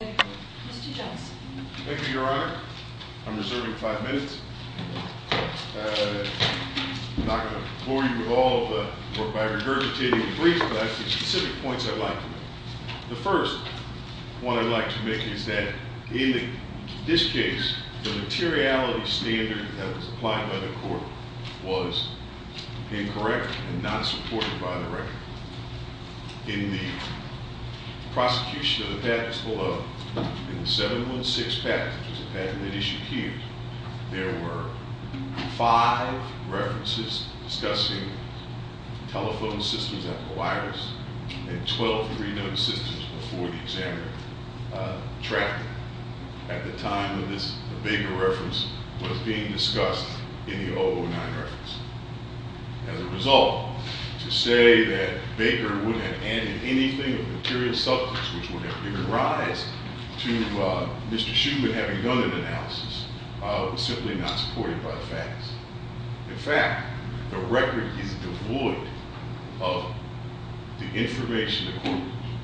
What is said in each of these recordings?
Thank you, Mr. Johnson. Thank you, Your Honor. I'm reserving five minutes. I'm not going to bore you with all of the, or by regurgitating the briefs, but I have some specific points I'd like to make. The first one I'd like to make is that in this case, the materiality standard that was applied by the court was incorrect and not supported by the record. In the prosecution of the patents below, in the 716 patent, which was a patent that issued Hughes, there were five references discussing telephone systems after the virus and 12 three-note systems before the examiner tracked them. At the time of this, a bigger reference was being discussed in the 009 reference. As a result, to say that Baker would have added anything of material substance which would have given rise to Mr. Shuman having done an analysis was simply not supported by the facts. In fact, the record is devoid of the information the court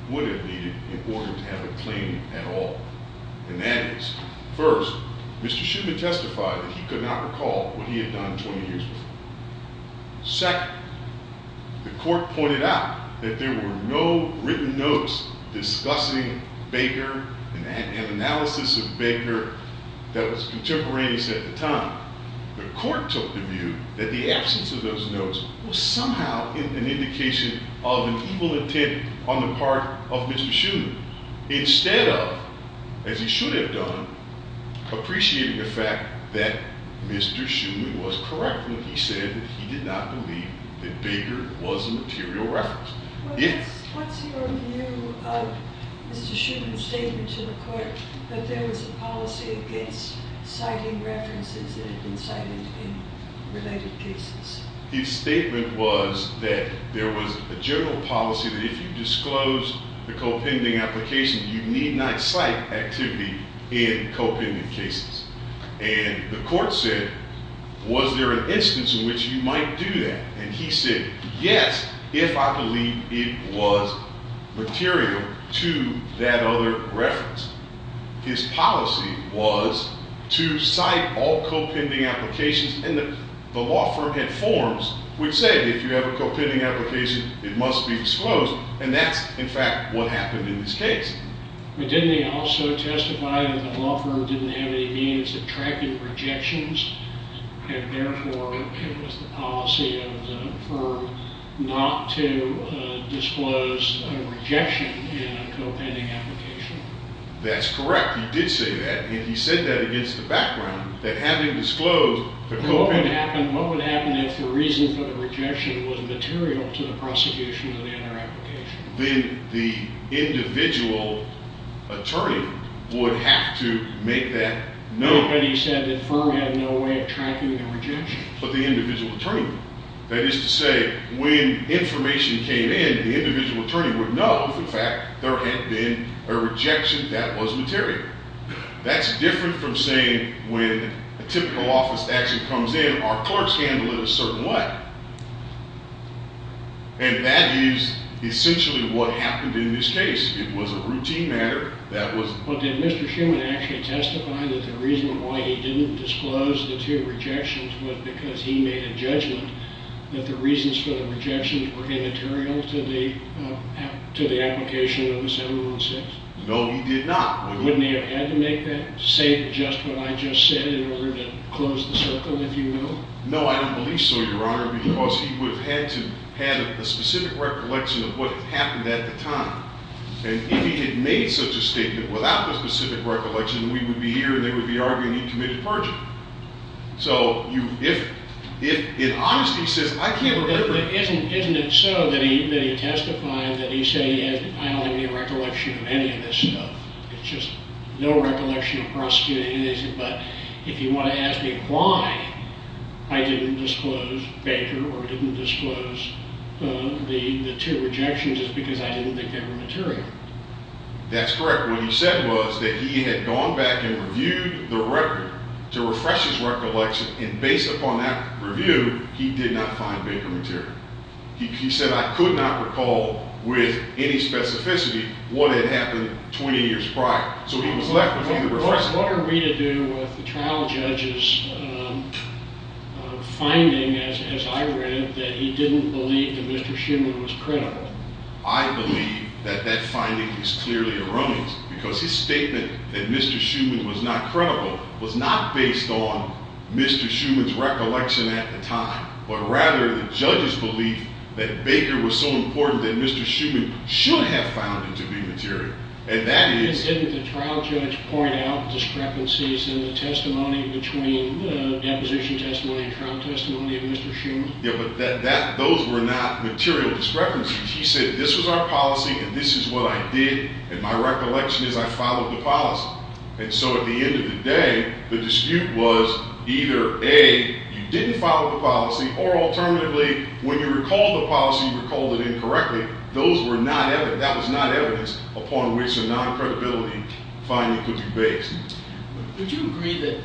would have needed in order to have a claim at all. And that is, first, Mr. Shuman testified that he could not recall what he had done 20 years before. Second, the court pointed out that there were no written notes discussing Baker and an analysis of Baker that was contemporaneous at the time. The court took the view that the absence of those notes was somehow an indication of an evil intent on the part of Mr. Shuman. Instead of, as he should have done, appreciating the fact that Mr. Shuman was correct when he said that he did not believe that Baker was a material reference. What's your view of Mr. Shuman's statement to the court that there was a policy against citing references that had been cited in related cases? His statement was that there was a general policy that if you disclose the co-pending application, you need not cite activity in co-pending cases. And the court said, was there an instance in which you might do that? And he said, yes, if I believe it was material to that other reference. His policy was to cite all co-pending applications. And the law firm had forms which said, if you have a co-pending application, it must be disclosed. And that's, in fact, what happened in this case. But didn't he also testify that the law firm didn't have any means of tracking rejections? And therefore, it was the policy of the firm not to disclose a rejection in a co-pending application. That's correct. He did say that. And he said that against the background, that having disclosed the co-pending application. What would happen if the reason for the rejection was material to the prosecution of the other application? Then the individual attorney would have to make that note. But he said the firm had no way of tracking the rejection. But the individual attorney would. That is to say, when information came in, the individual attorney would know if, in fact, there had been a rejection that was material. That's different from saying, when a typical office action comes in, our clerks handle it a certain way. And that is essentially what happened in this case. It was a routine matter. Well, did Mr. Schuman actually testify that the reason why he didn't disclose the two rejections was because he made a judgment that the reasons for the rejections were immaterial to the application of the 716? No, he did not. Wouldn't he have had to make that? Say just what I just said in order to close the circle, if you will? No, I don't believe so, Your Honor, because he would have had to have a specific recollection of what happened at the time. And if he had made such a statement without the specific recollection, we would be here, and they would be arguing he committed perjury. So if, in honesty, he says, I can't remember. Isn't it so that he testified that he said, I don't have any recollection of any of this stuff? It's just no recollection of prosecuting anything. But if you want to ask me why I didn't disclose Baker or didn't disclose the two rejections, it's because I didn't think they were material. That's correct. What he said was that he had gone back and reviewed the record to refresh his recollection, and based upon that review, he did not find Baker material. He said, I could not recall with any specificity what had happened 20 years prior. So he was left with only the reflection. What are we to do with the trial judge's finding, as I read, that he didn't believe that Mr. Schuman was credible? I believe that that finding is clearly erroneous, because his statement that Mr. Schuman was not credible was not based on Mr. Schuman's recollection at the time, but rather the judge's belief that Baker was so important that Mr. Schuman should have found him to be material. Didn't the trial judge point out discrepancies in the deposition testimony and trial testimony of Mr. Schuman? Yeah, but those were not material discrepancies. He said, this was our policy, and this is what I did, and my recollection is I followed the policy. And so at the end of the day, the dispute was either, A, you didn't follow the policy, or alternatively, when you recalled the policy, you recalled it incorrectly. That was not evidence upon which a non-credibility finding could be based. Would you agree that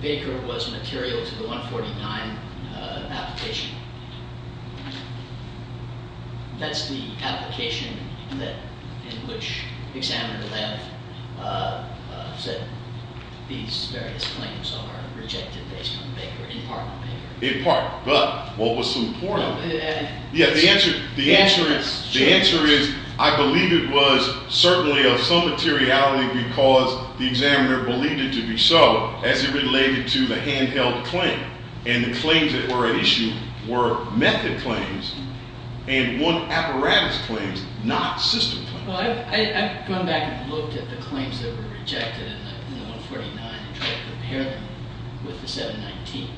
Baker was material to the 149 application? That's the application in which the examiner then said these various claims are rejected based on Baker, in part. In part, but what was so important? Yeah, the answer is, I believe it was certainly of some materiality because the examiner believed it to be so, as it related to the handheld claim. And the claims that were at issue were method claims and one apparatus claims, not system claims. Well, I've gone back and looked at the claims that were rejected in the 149 and tried to compare them with the 719.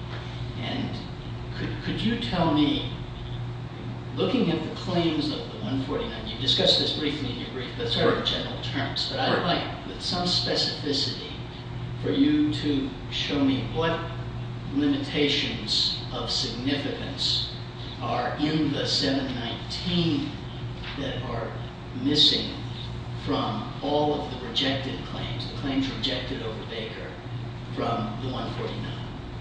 And could you tell me, looking at the claims of the 149, you discussed this briefly in your brief, the sort of general terms, but I'd like some specificity for you to show me what limitations of significance are in the 719 that are missing from all of the rejected claims, the claims rejected over Baker from the 149.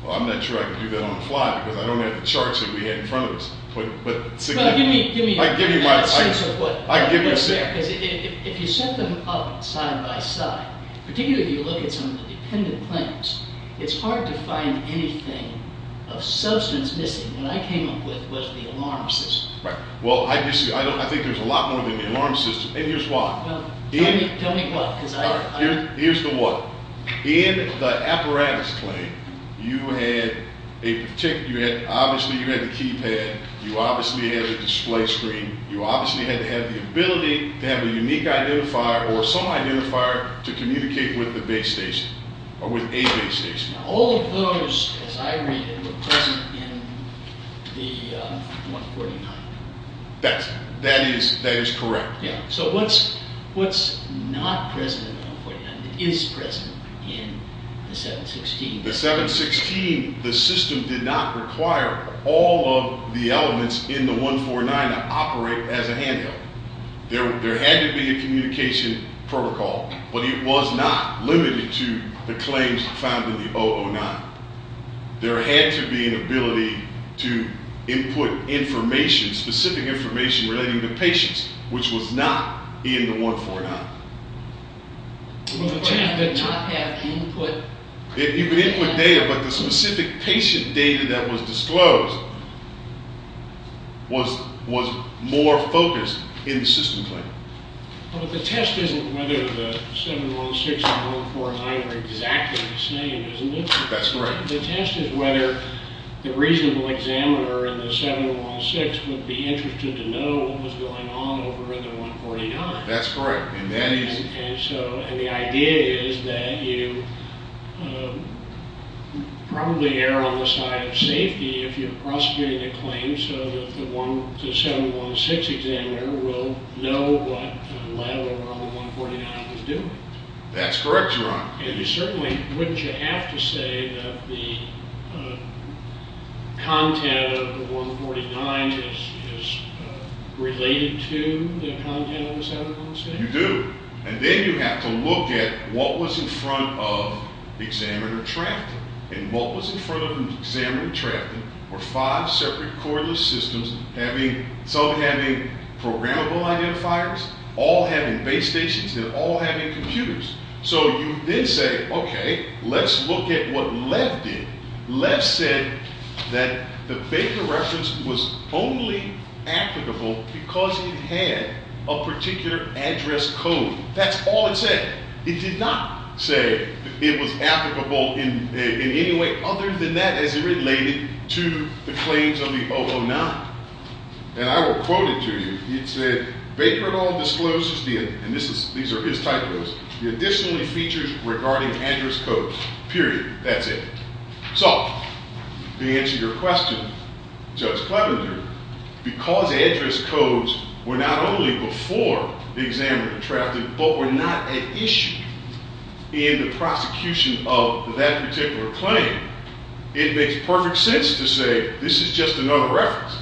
Well, I'm not sure I can do that on the fly because I don't have the charts that we had in front of us. Well, give me a sense of what's there. Because if you set them up side by side, particularly if you look at some of the dependent claims, it's hard to find anything of substance missing. And what I came up with was the alarm system. Right. Well, I think there's a lot more than the alarm system, and here's why. Tell me what. Here's the what. In the apparatus claim, you had a particular, obviously you had the keypad, you obviously had the display screen, you obviously had to have the ability to have a unique identifier or some identifier to communicate with the base station or with a base station. All of those, as I read it, were present in the 149. That is correct. So what's not present in the 149 that is present in the 716? The 716, the system did not require all of the elements in the 149 to operate as a handheld. There had to be a communication protocol, but it was not limited to the claims found in the 009. There had to be an ability to input information, specific information, relating to patients, which was not in the 149. It did not have input. It did not have input data, but the specific patient data that was disclosed was more focused in the system claim. But the test isn't whether the 716 and the 149 are exactly the same, isn't it? That's correct. The test is whether the reasonable examiner in the 716 would be interested to know what was going on over in the 149. That's correct. And the idea is that you probably err on the side of safety if you're prosecuting a claim so that the 716 examiner will know what the lab over on the 149 was doing. That's correct, Your Honor. Certainly, wouldn't you have to say that the content of the 149 is related to the content of the 716? You do. And then you have to look at what was in front of examiner-trafficking, and what was in front of examiner-trafficking were five separate cordless systems, some having programmable identifiers, all having base stations, and all having computers. So you then say, okay, let's look at what Lev did. Lev said that the Baker reference was only applicable because it had a particular address code. That's all it said. It did not say it was applicable in any way other than that as it related to the claims of the 009. And I will quote it to you. It said, Baker et al. discloses, and these are his typos, the additional features regarding address codes, period. That's it. So to answer your question, Judge Clevenger, because address codes were not only before the examiner-trafficking, but were not an issue in the prosecution of that particular claim, it makes perfect sense to say this is just another reference.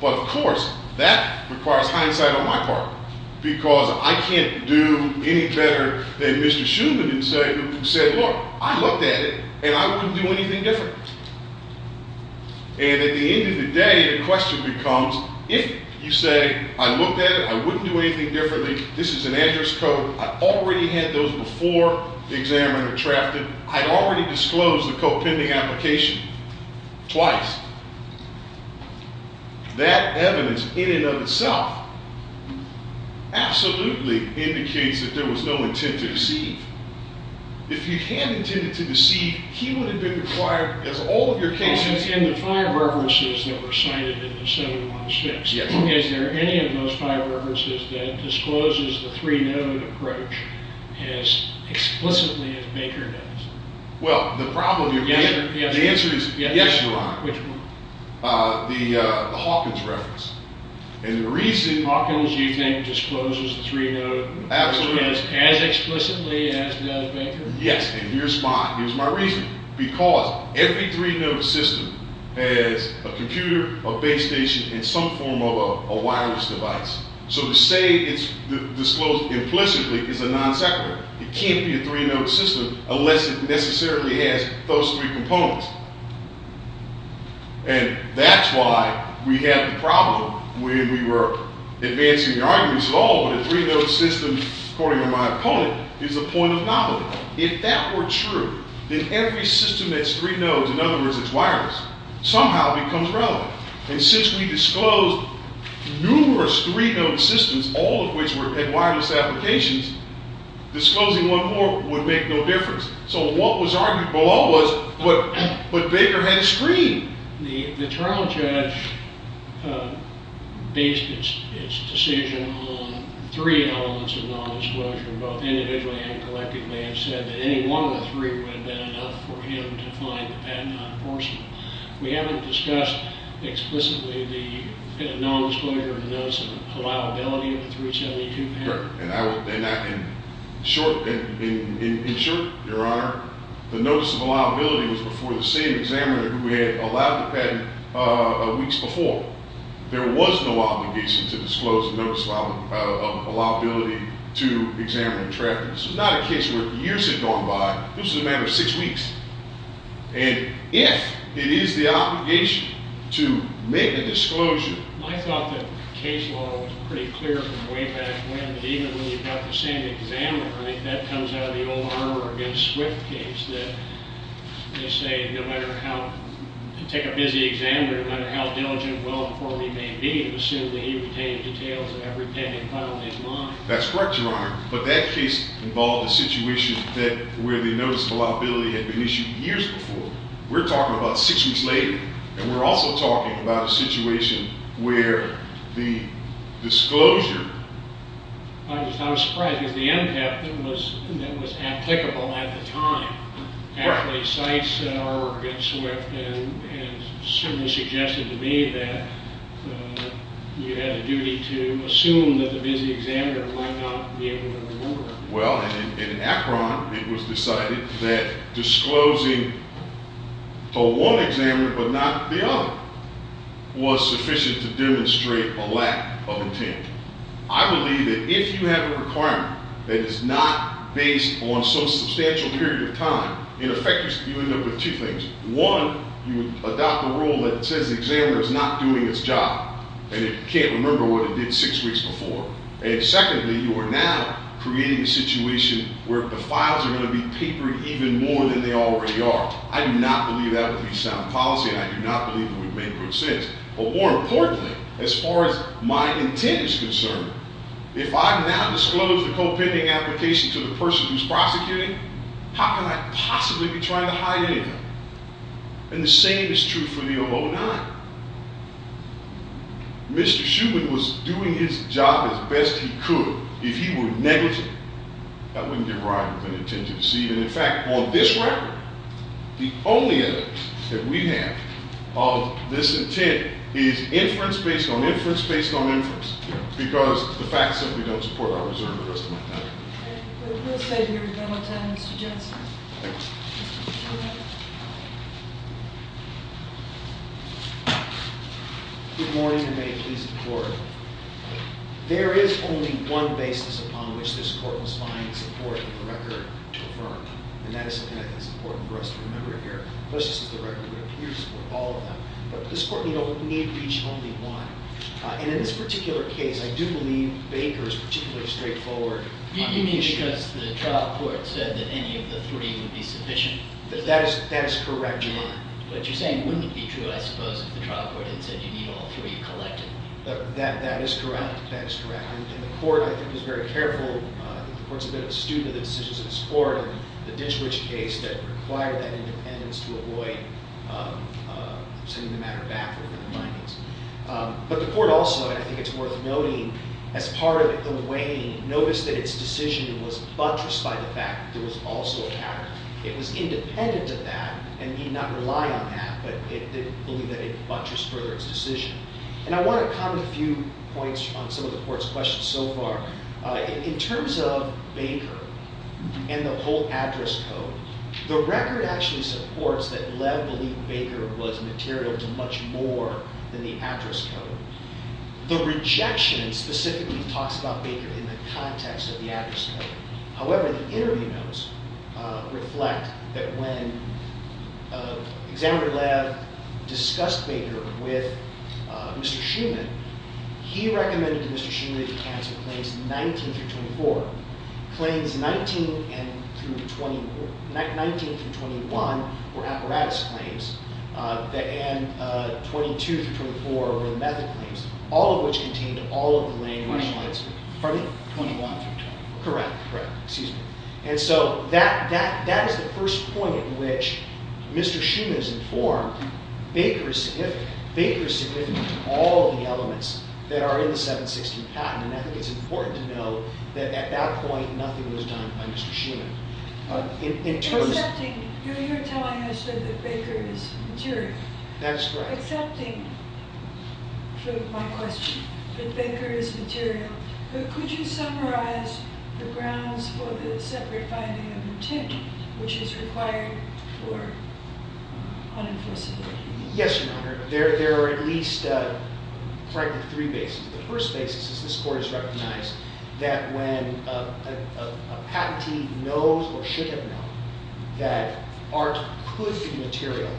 But, of course, that requires hindsight on my part because I can't do any better than Mr. Shuman who said, look, I looked at it, and I wouldn't do anything different. And at the end of the day, the question becomes, if you say I looked at it, I wouldn't do anything differently, this is an address code, I already had those before the examiner-trafficking, I'd already disclosed the co-pending application twice. That evidence in and of itself absolutely indicates that there was no intent to deceive. If he had intended to deceive, he would have been required, as all of your cases- In the five references that were cited in the 716, is there any of those five references that discloses the three-node approach as explicitly as Baker does? Well, the answer is yes, Your Honor. Which one? The Hawkins reference. Hawkins, you think, discloses the three-node approach as explicitly as does Baker? Yes, and here's my reason. Because every three-node system has a computer, a base station, and some form of a wireless device. So to say it's disclosed implicitly is a non-separate. It can't be a three-node system unless it necessarily has those three components. And that's why we had the problem when we were advancing the arguments at all, when a three-node system, according to my opponent, is a point of novelty. If that were true, then every system that's three-nodes, in other words it's wireless, somehow becomes relevant. And since we disclosed numerous three-node systems, all of which had wireless applications, disclosing one more would make no difference. So what was argued below was, but Baker had a screen. The trial judge based its decision on three elements of non-disclosure, both individually and collectively, and said that any one of the three would have been enough for him to find that not possible. We haven't discussed explicitly the non-disclosure of the notice of allowability of the 372 patent. Correct. And in short, Your Honor, the notice of allowability was before the same examiner who had allowed the patent weeks before. There was no obligation to disclose the notice of allowability to examiner and traffickers. It's not a case where years had gone by. This was a matter of six weeks. And if it is the obligation to make a disclosure. I thought that case law was pretty clear from way back when that even when you've got the same examiner, I think that comes out of the old Armour v. Swift case that they say no matter how, to take a busy examiner, no matter how diligent, well-informed he may be, it was assumed that he retained details of every patent funnel in mind. That's correct, Your Honor. But that case involved a situation where the notice of allowability had been issued years before. We're talking about six weeks later. And we're also talking about a situation where the disclosure... I was surprised because the MPEP that was applicable at the time, actually cites an Armour v. Swift, and similarly suggested to me that you had a duty to assume that the busy examiner might not be able to remember. Well, in Akron, it was decided that disclosing to one examiner but not the other was sufficient to demonstrate a lack of intent. I believe that if you have a requirement that is not based on some substantial period of time, in effect you end up with two things. One, you adopt a rule that says the examiner is not doing his job and can't remember what he did six weeks before. And secondly, you are now creating a situation where the files are going to be papered even more than they already are. I do not believe that would be sound policy, and I do not believe it would make good sense. But more importantly, as far as my intent is concerned, if I now disclose the co-pending application to the person who's prosecuting, how can I possibly be trying to hide anything? And the same is true for the 009. Mr. Shuman was doing his job as best he could. If he were negligent, that wouldn't give rise to an intention to deceive. And in fact, on this record, the only evidence that we have of this intent is inference based on inference based on inference, because the facts simply don't support our reserve the rest of my time. We'll save you a little time, Mr. Jensen. Good morning, and may it please the Court. There is only one basis upon which this Court must find support in the record to affirm. And that is something that is important for us to remember here. This is the record that appears to support all of them. But this Court, you know, we need to reach only one. And in this particular case, I do believe Baker is particularly straightforward. You mean because the trial court said that any of the three would be sufficient? That is correct. But you're saying it wouldn't be true, I suppose, if the trial court had said you need all three collected. That is correct. That is correct. And the Court, I think, is very careful. The Court's a bit of a student of the decisions of this Court and the Ditchwich case that required that independence to avoid sending the matter back within the bindings. But the Court also, and I think it's worth noting, as part of the weighing, noticed that its decision was buttressed by the fact that there was also a pattern. It was independent of that and did not rely on that, but it did believe that it buttressed further its decision. And I want to comment a few points on some of the Court's questions so far. In terms of Baker and the whole address code, the record actually supports that Lev believed Baker was material to much more than the address code. The rejection specifically talks about Baker in the context of the address code. However, the interview notes reflect that when Examiner Lev discussed Baker with Mr. Shuman, he recommended to Mr. Shuman that he cancel claims 19 through 24. Claims 19 through 21 were apparatus claims, and 22 through 24 were the method claims, all of which contained all of the language. Pardon me? 21 through 24. Correct. And so that is the first point at which Mr. Shuman is informed Baker is significant to all of the elements that are in the 716 patent. And I think it's important to note that at that point nothing was done by Mr. Shuman. You're telling us that Baker is material. That's correct. Accepting my question that Baker is material, could you summarize the grounds for the separate finding of the tint, which is required for unenforceability? Yes, Your Honor. There are at least three bases. The first basis is this Court has recognized that when a patentee knows or should have known that art could be material,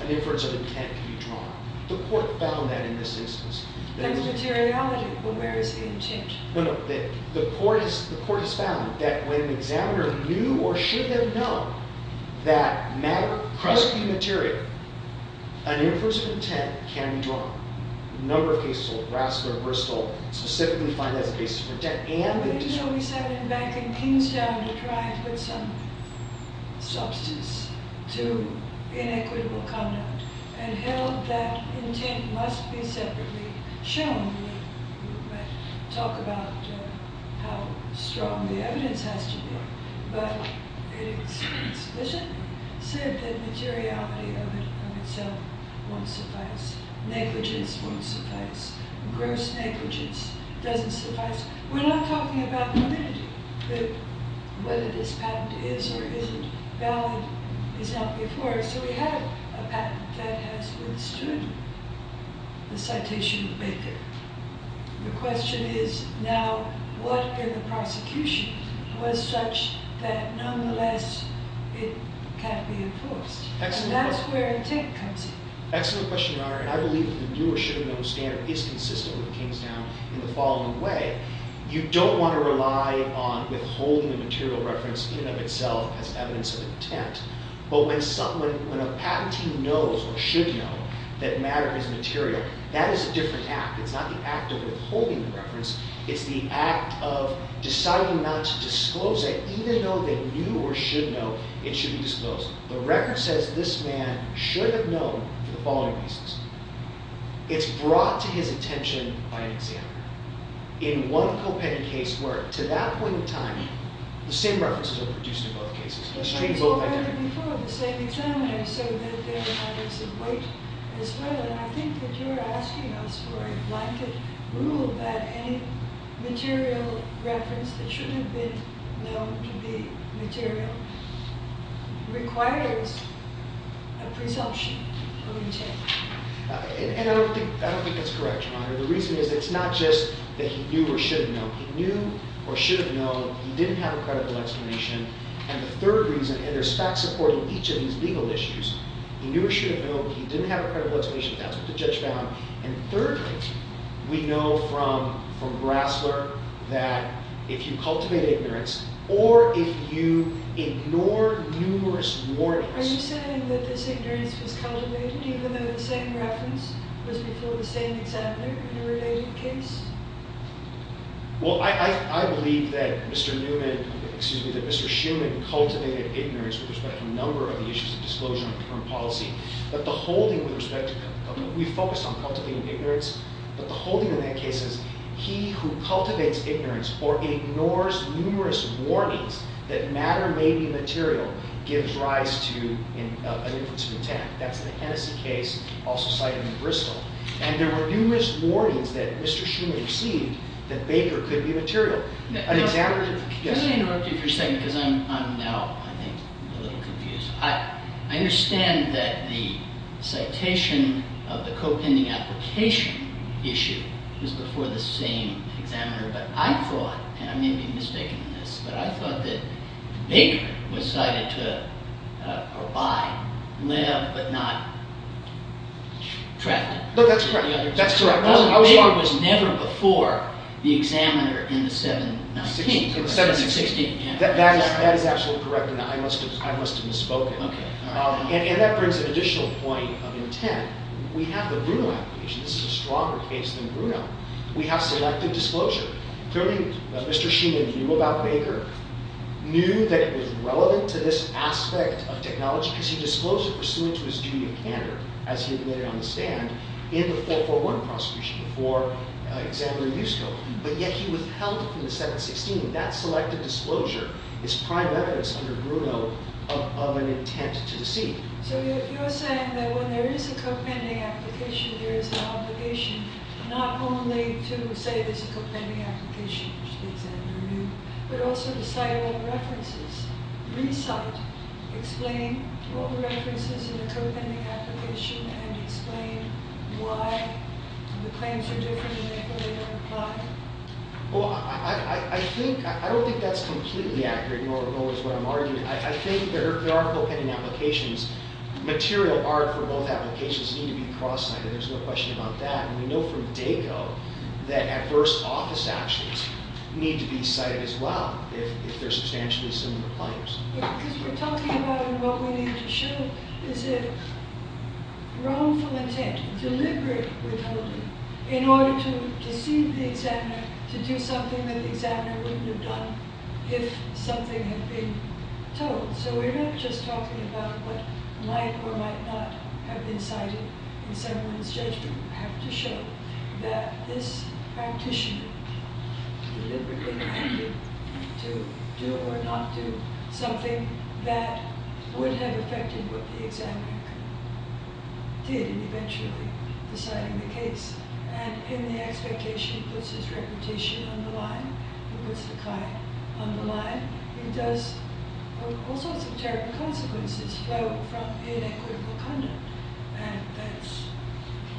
an inference of intent can be drawn. The Court found that in this instance. Then the materiality, where is the intent? No, no, the Court has found that when the examiner knew or should have known that matter could be material, an inference of intent can be drawn. A number of cases, Rassler, Bristol, specifically find that as a basis for intent. I mean, you know, we sat in back in Kingstown to try and put some substance to inequitable conduct and held that intent must be separately shown. We might talk about how strong the evidence has to be, but it is explicit that materiality of itself won't suffice. Negligence won't suffice. Gross negligence doesn't suffice. We're not talking about validity. Whether this patent is or isn't valid is not before us. So we have a patent that has withstood the citation of Baker. The question is now what in the prosecution was such that nonetheless it can't be enforced? And that's where intent comes in. Excellent question, Your Honor. And I believe that the knew or should have known standard is consistent with Kingstown in the following way. You don't want to rely on withholding a material reference in and of itself as evidence of intent. But when a patentee knows or should know that matter is material, that is a different act. It's not the act of withholding the reference. It's the act of deciding not to disclose it, even though they knew or should know it should be disclosed. The record says this man should have known for the following reasons. It's brought to his attention by an examiner. In one co-penned case where, to that point in time, the same references are produced in both cases. The same examiner said that they were having some weight as well. And I think that you're asking us for a blanket rule that any material reference that shouldn't have been known to be material requires a presumption of intent. And I don't think that's correct, Your Honor. The reason is it's not just that he knew or should have known. He knew or should have known. He didn't have a credible explanation. And the third reason, and there's facts supporting each of these legal issues, he knew or should have known. He didn't have a credible explanation. That's what the judge found. And thirdly, we know from Brasler that if you cultivate ignorance or if you ignore numerous warnings... Are you saying that this ignorance was cultivated even though the same reference was before the same examiner in a related case? Well, I believe that Mr. Newman, excuse me, that Mr. Shuman cultivated ignorance with respect to a number of the issues of disclosure and policy. But the holding with respect to... we focused on cultivating ignorance. But the holding in that case is he who cultivates ignorance or ignores numerous warnings that matter may be material gives rise to an inference of intent. That's the Hennessy case also cited in Bristol. And there were numerous warnings that Mr. Shuman received that Baker could be material. An examiner... Can I interrupt you for a second because I'm now, I think, a little confused. I understand that the citation of the co-pending application issue is before the same examiner. But I thought, and I may be mistaking this, but I thought that Baker was cited to abide, live, but not trapped. No, that's correct. That's correct. Baker was never before the examiner in the 719. 716. 716, yeah. That is absolutely correct. And I must have misspoken. Okay. And that brings an additional point of intent. We have the Bruno application. This is a stronger case than Bruno. We have selected disclosure. Clearly, Mr. Shuman, if you will, about Baker, knew that it was relevant to this aspect of technology because he disclosed it pursuant to his duty of candor, as he admitted on the stand, in the 441 prosecution before examiner used him. But yet he withheld it from the 716. That selected disclosure is prime evidence under Bruno of an intent to deceive. So you're saying that when there is a co-pending application, there is an obligation not only to say there's a co-pending application, which the examiner knew, but also to cite all the references, recite, explain all the references in the co-pending application, and explain why the claims are different and why they don't apply? Well, I don't think that's completely accurate, nor is what I'm arguing. I think there are co-pending applications. Material art for both applications need to be cross-cited. There's no question about that. And we know from DACO that adverse office actions need to be cited as well if they're substantially similar claims. Because we're talking about what we need to show is a wrongful intent, deliberate withholding, in order to deceive the examiner to do something that the examiner wouldn't have done if something had been told. So we're not just talking about what might or might not have been cited in someone's judgment. We have to show that this practitioner deliberately intended to do or not do something that would have affected what the examiner did eventually deciding the case. And in the expectation, it puts his reputation on the line. It puts the client on the line. It does all sorts of terrible consequences from inequitable conduct. And that's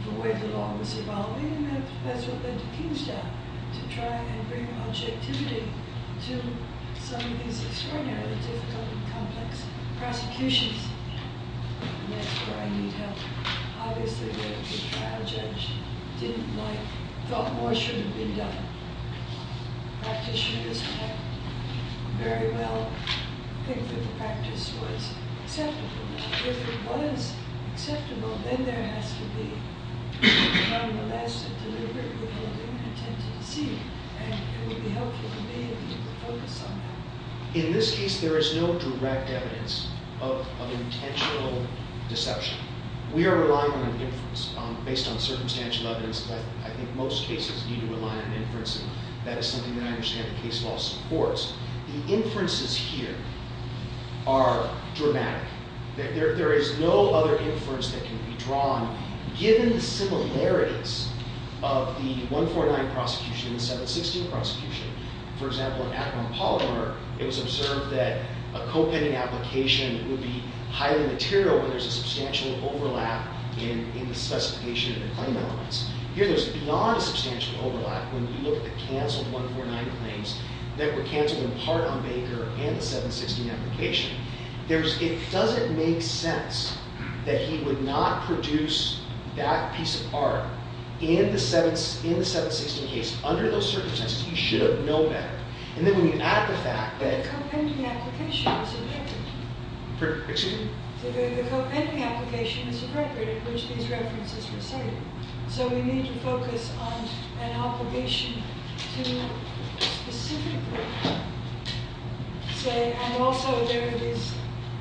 the way the law was evolving. And that's what led to Keenestown to try and bring objectivity to some of these extraordinarily difficult and complex prosecutions. And that's where I need help. Obviously, the trial judge didn't like, thought more shouldn't have been done. Practitioners might very well think that the practice was acceptable. If it was acceptable, then there has to be nonetheless a deliberate withholding of intent to deceive. And it would be helpful to me if you could focus on that. In this case, there is no direct evidence of intentional deception. We are relying on inference based on circumstantial evidence. But I think most cases need to rely on inference. And that is something that I understand the case law supports. The inferences here are dramatic. There is no other inference that can be drawn given the similarities of the 149 prosecution and the 716 prosecution. For example, in Akron Polymer, it was observed that a co-pending application would be highly material when there's a substantial overlap in the specification of the claim elements. Here, there's beyond a substantial overlap when you look at the canceled 149 claims that were canceled in part on Baker and the 716 application. It doesn't make sense that he would not produce that piece of art in the 716 case. Under those circumstances, he should have known better. And then when you add the fact that the co-pending application is appropriate in which these references were cited. So we need to focus on an obligation to specifically say, and also there are these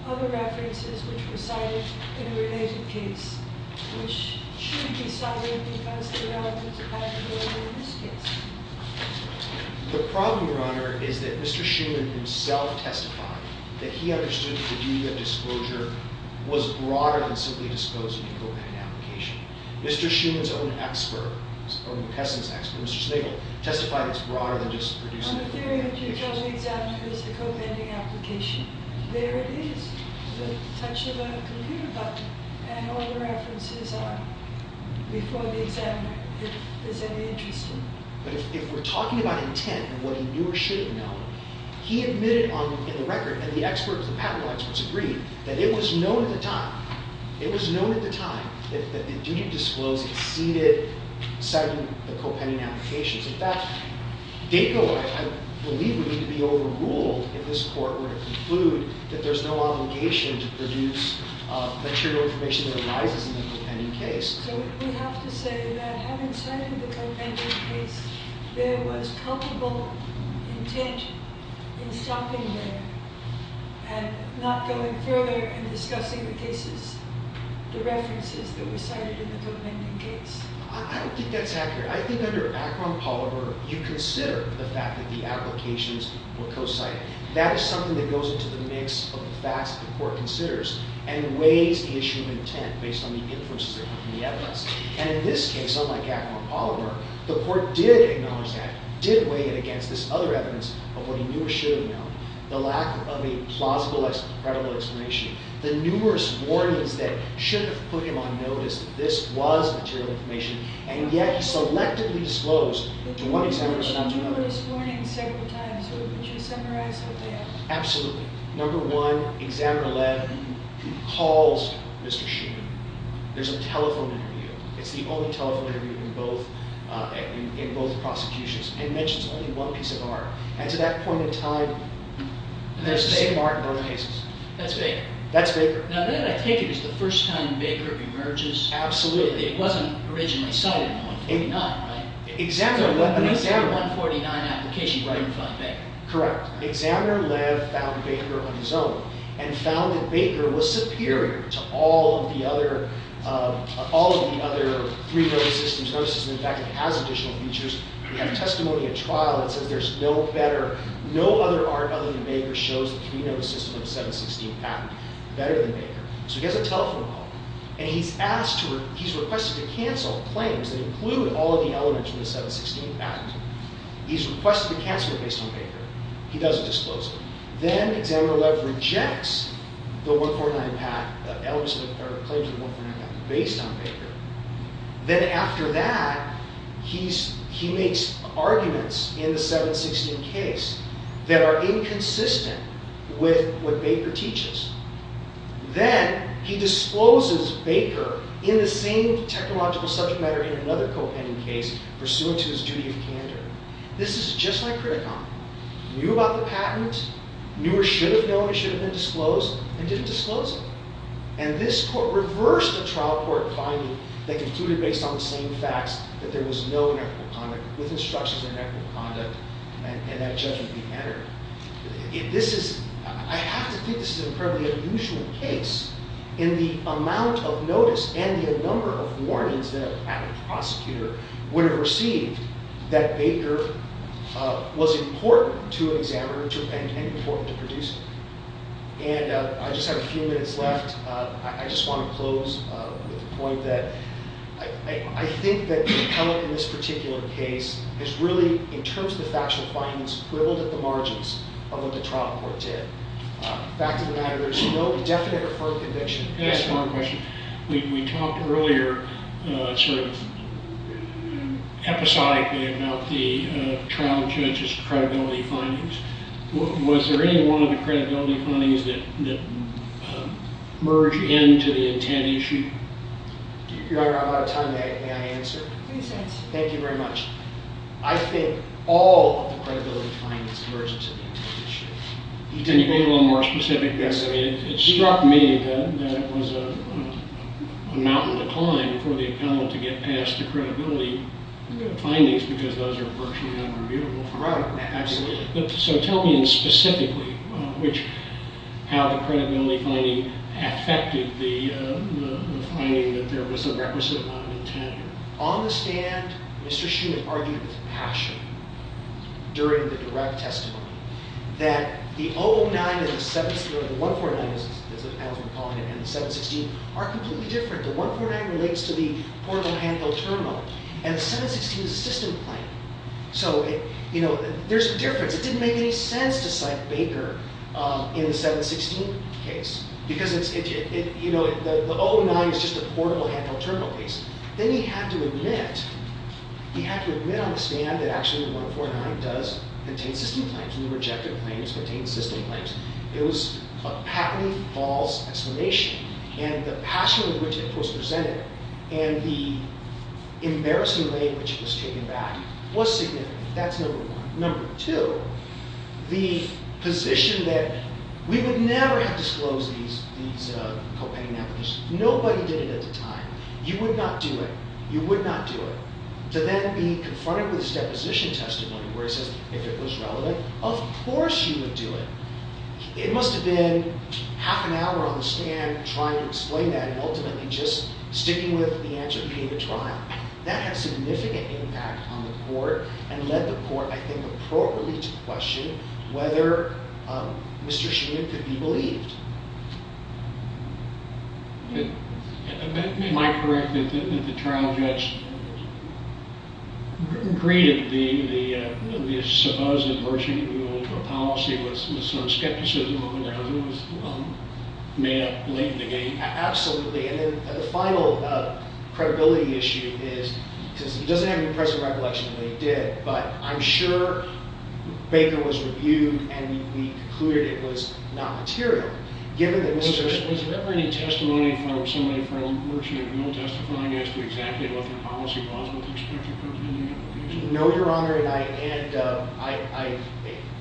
other references which were cited in a related case, which should be cited because the relevance of having more than this case. The problem, Your Honor, is that Mr. Schuman himself testified that he understood that the duty of disclosure was broader than simply disclosing a co-pending application. Mr. Schuman's own expert, or McKesson's expert, Mr. Snigel, testified it's broader than just producing. On the theory that you chose the examiner as the co-pending application, there it is with the touch of a computer button. And all the references are before the examiner if there's any interest in them. But if we're talking about intent and what he knew or should have known, he admitted in the record and the patent law experts agreed that it was known at the time. That the duty of disclosure exceeded citing the co-pending applications. In fact, I believe we need to be overruled if this court were to conclude that there's no obligation to produce material information that arises in the co-pending case. So we have to say that having cited the co-pending case, there was culpable intent in stopping there and not going further in discussing the cases, the references that were cited in the co-pending case. I don't think that's accurate. I think under Akron-Polymer, you consider the fact that the applications were co-cited. That is something that goes into the mix of the facts that the court considers and weighs the issue of intent based on the influences of the evidence. And in this case, unlike Akron-Polymer, the court did acknowledge that, did weigh it against this other evidence of what he knew or should have known, the lack of a plausible credible explanation, the numerous warnings that should have put him on notice that this was material information. And yet, he selectively disclosed to one examiner but not to another. There were numerous warnings several times. Would you summarize what they are? Absolutely. Number one, examiner 11 calls Mr. Shuman. There's a telephone interview. It's the only telephone interview in both prosecutions. And he mentions only one piece of art. And to that point in time, there's the same art in both cases. That's Baker. That's Baker. Now, then I take it it's the first time Baker emerges. Absolutely. It wasn't originally sold in 149, right? Examiner Lev. So it was in the 149 application where you found Baker. Correct. Examiner Lev found Baker on his own and found that Baker was superior to all of the other three road systems, road systems. In fact, it has additional features. We have testimony at trial that says there's no better, no other art other than Baker shows the three road system of the 716 patent better than Baker. So he has a telephone call. And he's asked to, he's requested to cancel claims that include all of the elements of the 716 patent. He's requested to cancel it based on Baker. He doesn't disclose it. Then examiner Lev rejects the 149 patent, the claims of the 149 patent based on Baker. Then after that, he makes arguments in the 716 case that are inconsistent with what Baker teaches. Then he discloses Baker in the same technological subject matter in another co-opending case pursuant to his duty of candor. This is just like Criticom. Knew about the patent, knew or should have known it should have been disclosed, and didn't disclose it. And this court reversed a trial court finding that concluded based on the same facts that there was no inequitable conduct with instructions of inequitable conduct, and that judgment be entered. This is, I have to think this is an incredibly unusual case in the amount of notice and the number of warnings that a patent prosecutor would have received that Baker was important to an examiner and important to producer. And I just have a few minutes left. I just want to close with the point that I think that the appellate in this particular case has really, in terms of the factual findings, quibbled at the margins of what the trial court did. Back to the matter, there's no definite or firm conviction. Can I ask one question? We talked earlier sort of episodically about the trial judge's credibility findings. Was there any one of the credibility findings that merged into the intent issue? Your Honor, I'm out of time. May I answer? Please answer. Thank you very much. I think all of the credibility findings merged into the intent issue. Can you be a little more specific? It struck me that it was a mountain to climb for the appellate to get past the credibility findings because those are virtually unreviewable. Right, absolutely. So tell me specifically how the credibility finding affected the finding that there was a requisite line of intent here. On the stand, Mr. Schmidt argued with passion during the direct testimony that the 109 and the 149, as we're calling it, and the 716 are completely different. The 149 relates to the portable handheld terminal, and the 716 is a system plane. So there's a difference. It didn't make any sense to cite Baker in the 716 case because the 109 is just a portable handheld terminal case. Then he had to admit, he had to admit on the stand that actually the 149 does contain system planes and the rejected planes contain system planes. It was a patently false explanation, and the passion with which it was presented and the embarrassing way in which it was taken back was significant. That's number one. Number two, the position that we would never have disclosed these copaign applications. Nobody did it at the time. You would not do it. You would not do it. To then be confronted with this deposition testimony where it says, if it was relevant, of course you would do it. It must have been half an hour on the stand trying to explain that and ultimately just sticking with the answer to pay the trial. That had significant impact on the court and led the court, I think, appropriately to question whether Mr. Sheehan could be believed. Am I correct that the trial judge greeted the supposed emergency rule policy with some skepticism over whether it was made up late in the game? Absolutely. And then the final credibility issue is, because he doesn't have any present recollection that he did, but I'm sure Baker was reviewed and we concluded it was not material, given that Mr. Sheehan Was there ever any testimony from somebody from emergency rule testifying as to exactly what their policy was with respect to copaign application? No, Your Honor. And I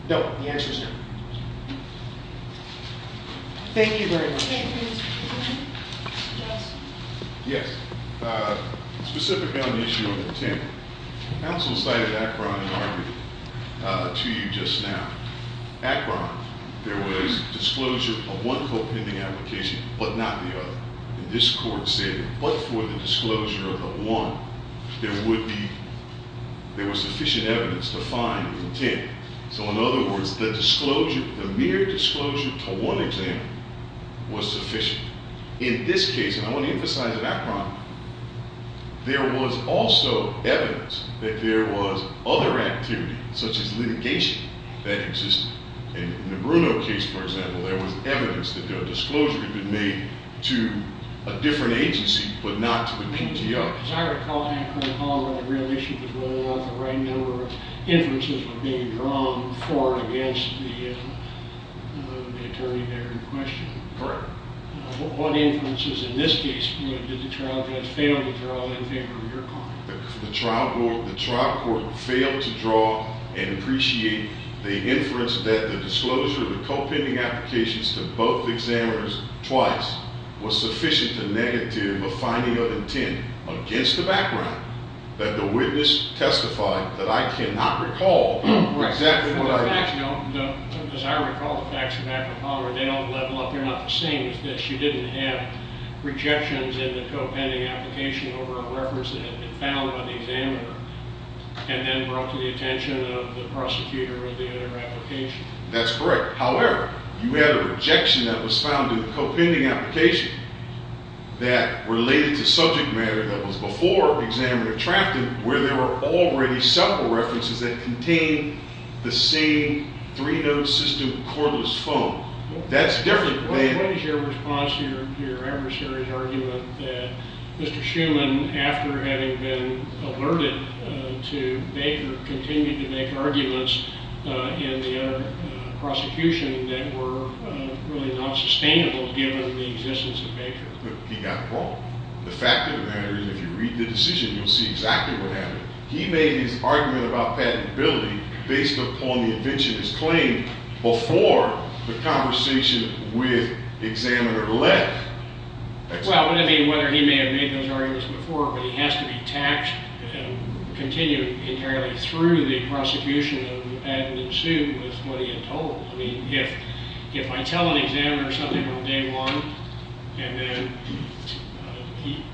don't. The answer is no. Thank you very much. Yes. Specifically on the issue of intent, counsel cited Akron and argued to you just now. Akron, there was disclosure of one copaigning application, but not the other. And this court said, but for the disclosure of the one, there would be, there was sufficient evidence to find intent. So in other words, the disclosure, the mere disclosure to one example was sufficient. In this case, and I want to emphasize it, Akron, there was also evidence that there was other activity, such as litigation, that existed. In the Bruno case, for example, there was evidence that a disclosure had been made to a different agency, but not to the PTO. As I recall, Akron, however, the real issue was whether or not the right number of inferences were being drawn for or against the attorney there in question. Correct. What inferences in this case did the trial judge fail to draw in favor of your comment? The trial court failed to draw and appreciate the inference that the disclosure of the copaigning applications to both examiners twice was sufficient to negative a finding of intent against the background that the witness testified that I cannot recall exactly what I did. As I recall the facts from Akron, they don't level up, they're not the same as this. You didn't have rejections in the copaigning application over a reference that had been found by the examiner and then brought to the attention of the prosecutor or the other application. That's correct. However, you had a rejection that was found in the copaigning application that related to subject matter that was before examiner attracted, where there were already several references that contained the same three-node system cordless phone. That's different than What is your response to your adversary's argument that Mr. Shuman, after having been alerted to Baker, continued to make arguments in the prosecution that were really not sustainable given the existence of Baker? He got it wrong. The fact of the matter is if you read the decision, you'll see exactly what happened. He made his argument about patentability based upon the inventionist's claim before the conversation with examiner left. Well, I mean, whether he may have made those arguments before, but he has to be taxed and continue entirely through the prosecution of adding in suit with what he had told. I mean, if I tell an examiner something on day one, and then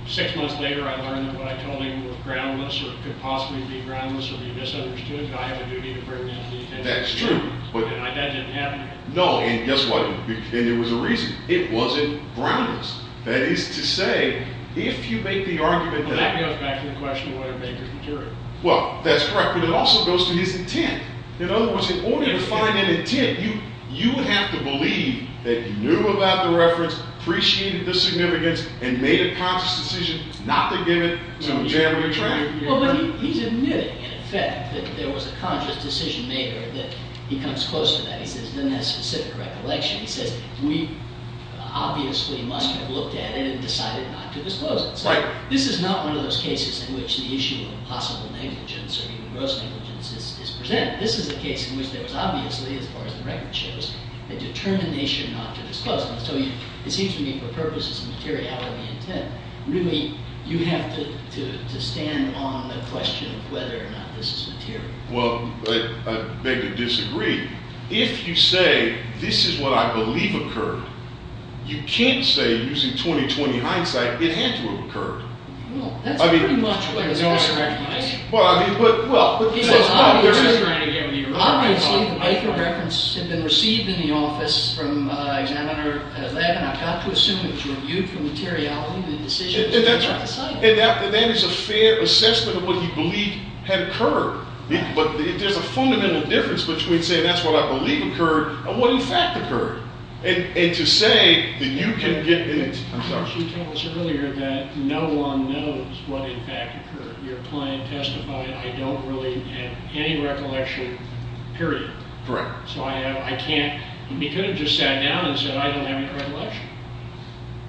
six months later I learned that what I told him was groundless or could possibly be groundless or be misunderstood, I have a duty to bring that to the attention of the jury. That's true. That didn't happen to him. No, and guess what? And there was a reason. It wasn't groundless. That is to say, if you make the argument that Well, that goes back to the question of whether Baker's material. Well, that's correct. But it also goes to his intent. In other words, in order to find an intent, you have to believe that you knew about the reference, appreciated the significance, and made a conscious decision not to give it to a January trial. Well, but he's admitting, in effect, that there was a conscious decision made or that he comes close to that. He says, it doesn't have specific recollection. He says, we obviously must have looked at it and decided not to disclose it. So this is not one of those cases in which the issue of possible negligence or even gross negligence is presented. This is a case in which there was obviously, as far as the record shows, a determination not to disclose it. So it seems to me, for purposes of materiality intent, really, you have to stand on the question of whether or not this is material. Well, I beg to disagree. If you say, this is what I believe occurred, you can't say, using 20-20 hindsight, it had to have occurred. Well, that's pretty much what he's trying to recognize. Well, I mean, but, well. He says, obviously, the Baker reference had been received in the office from examiner 11. I've got to assume it was reviewed for materiality And that is a fair assessment of what he believed had occurred. But there's a fundamental difference between saying, that's what I believe occurred and what, in fact, occurred. And to say that you can get in it. She tells earlier that no one knows what, in fact, occurred. Your client testified, I don't really have any recollection, period. Correct. So I can't. He could have just sat down and said, I don't have any recollection.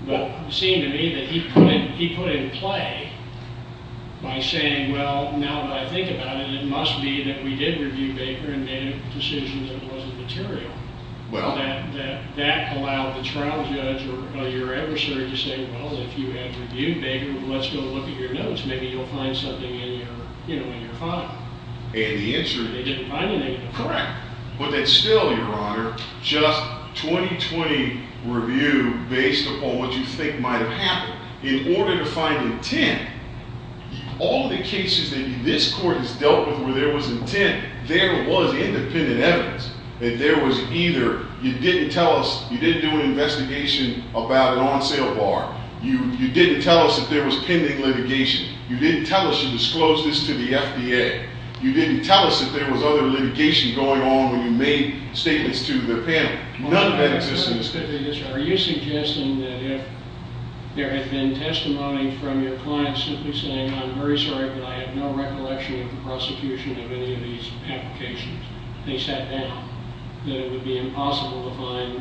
But it seemed to me that he put in play by saying, well, now that I think about it, it must be that we did review Baker and made a decision that it wasn't material. Well. That allowed the trial judge or your adversary to say, well, if you have reviewed Baker, let's go look at your notes. Maybe you'll find something in your file. And the answer is. They didn't find anything in the file. Correct. But that still, your honor, just 20-20 review based upon what you think might have happened. In order to find intent, all the cases that this court has dealt with where there was intent, there was independent evidence. That there was either you didn't tell us, you didn't do an investigation about an on sale bar. You didn't tell us that there was pending litigation. You didn't tell us you disclosed this to the FDA. You didn't tell us that there was other litigation going on when you made statements to the panel. None of that exists in this case. Are you suggesting that if there had been testimony from your client simply saying, I'm very sorry, but I have no recollection of the prosecution of any of these applications, they sat down, that it would be impossible to find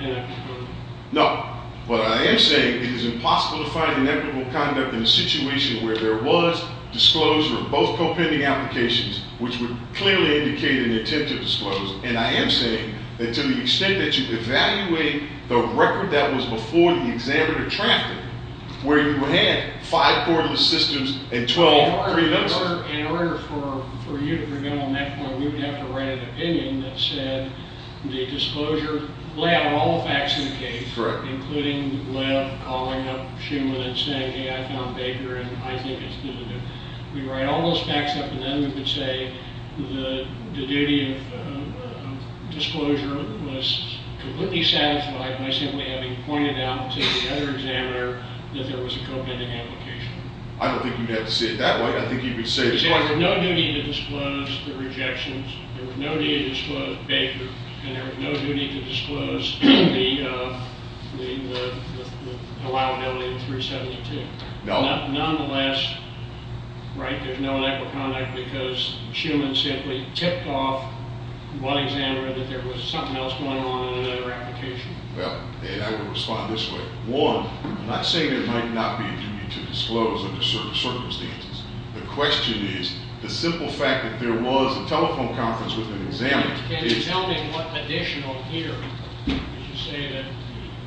inequitable conduct? No. What I am saying, it is impossible to find inequitable conduct in a situation where there was disclosure of both co-pending applications, which would clearly indicate an attempt to disclose. And I am saying that to the extent that you evaluate the record that was before the examiner drafted, where you had five courtless systems and 12 preliminaries. In order for you to bring up on that point, we would have to write an opinion that said the disclosure, lay out all the facts in the case, including Lev calling up Schuman and saying, hey, I found Baker, and I think it's good to do. We'd write all those facts up, and then we would say the duty of disclosure was completely satisfied by simply having pointed out to the other examiner that there was a co-pending application. I don't think you'd have to say it that way. I think you'd be safe. There was no duty to disclose the rejections. There was no duty to disclose Baker. And there was no duty to disclose the allowability of 372. Nonetheless, there's no inequal conduct because Schuman simply tipped off one examiner that there was something else going on in another application. And I would respond this way. One, I'm not saying there might not be a duty to disclose under certain circumstances. The question is, the simple fact that there was a telephone conference with an examiner. Can you tell me what additional here is to say that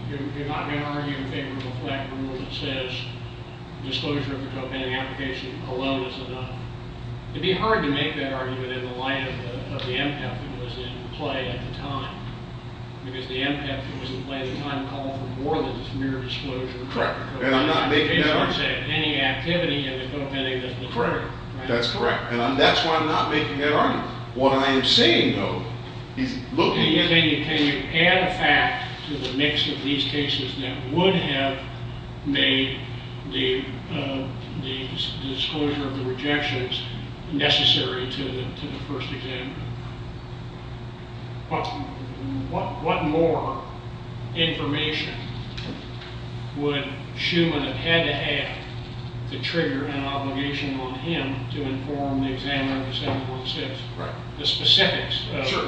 you're not going to argue in favor of a flat rule that says disclosure of a co-pending application alone is enough? It'd be hard to make that argument in the light of the impact that was in play at the time. Because the impact that was in play at the time called for more than just mere disclosure. Correct. And I'm not making that argument. Any activity in the co-pending doesn't occur. That's correct. And that's why I'm not making that argument. What I am saying, though, is look. Can you add a fact to the mix of these cases that would have made the disclosure of the rejections necessary to the first examiner? What more information would Schuman have had to have to trigger an obligation on him to inform the examiner of the 746? Correct. The specifics of that? Sure.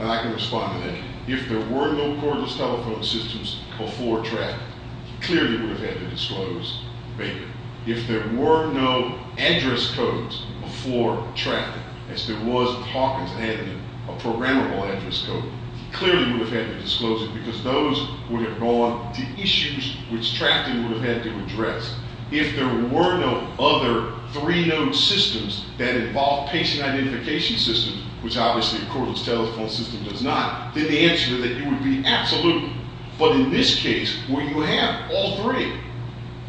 And I can respond to that. If there were no cordless telephone systems before trafficking, he clearly would have had to disclose the payment. If there were no address codes before trafficking, as there was with Hawkins that had a programmable address code, he clearly would have had to disclose it. Because those would have gone to issues which trafficking would have had to address. If there were no other three-node systems that involved patient identification systems, which obviously a cordless telephone system does not, then the answer to that would be absolutely. But in this case, where you have all three,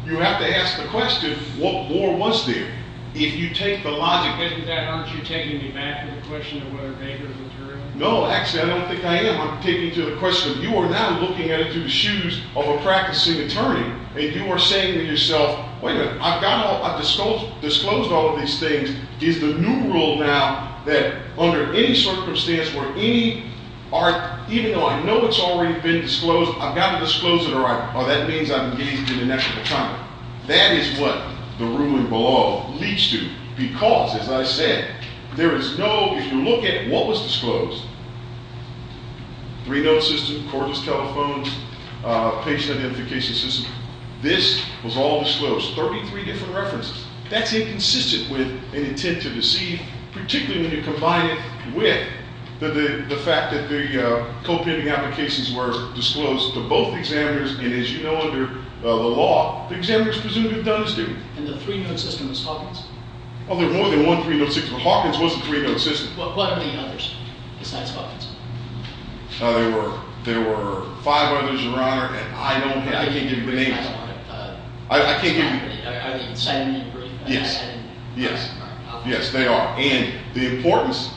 you have to ask the question, what more was there? If you take the logic. Isn't that, aren't you taking me back to the question of whether Baker was a jury? No, actually, I don't think I am. I'm taking you to the question. You are now looking at it through the shoes of a practicing attorney. And you are saying to yourself, wait a minute. I've got all, I've disclosed all of these things. Is the new rule now that under any circumstance where any, even though I know it's already been disclosed, I've got to disclose it, or that means I'm engaged in a national crime? That is what the ruling below leads to. Because, as I said, there is no, if you look at it, what was disclosed? Three-node system, cordless telephone, patient identification system. This was all disclosed. 33 different references. That's inconsistent with an intent to deceive, particularly when you combine it with the fact that the co-pending applications were disclosed to both examiners. And as you know, under the law, the examiners presumably have done the same. And the three-node system was Hawkins? Oh, there were more than one three-node system. Hawkins was the three-node system. What are the others, besides Hawkins? There were five others, Your Honor, and I don't have, I can't give you the names. I don't want to, I can't give you. Are they the same group? Yes. Yes, they are. And the importance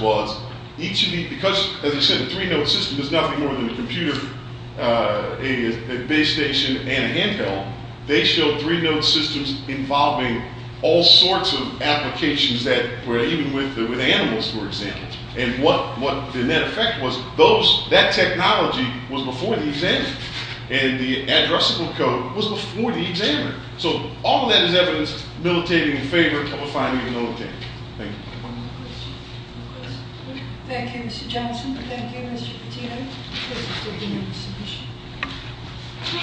was each of these, because as I said, the three-node system is nothing more than a computer, a base station, and a handheld. They showed three-node systems involving all sorts of applications that were even with animals, for example. And what the net effect was, that technology was before the examiner. And the addressable code was before the examiner. So all of that is evidence militating in favor of a five-node node thing. Thank you. Thank you, Mr. Johnson. Thank you, Mr. Patino. This is a unanimous submission.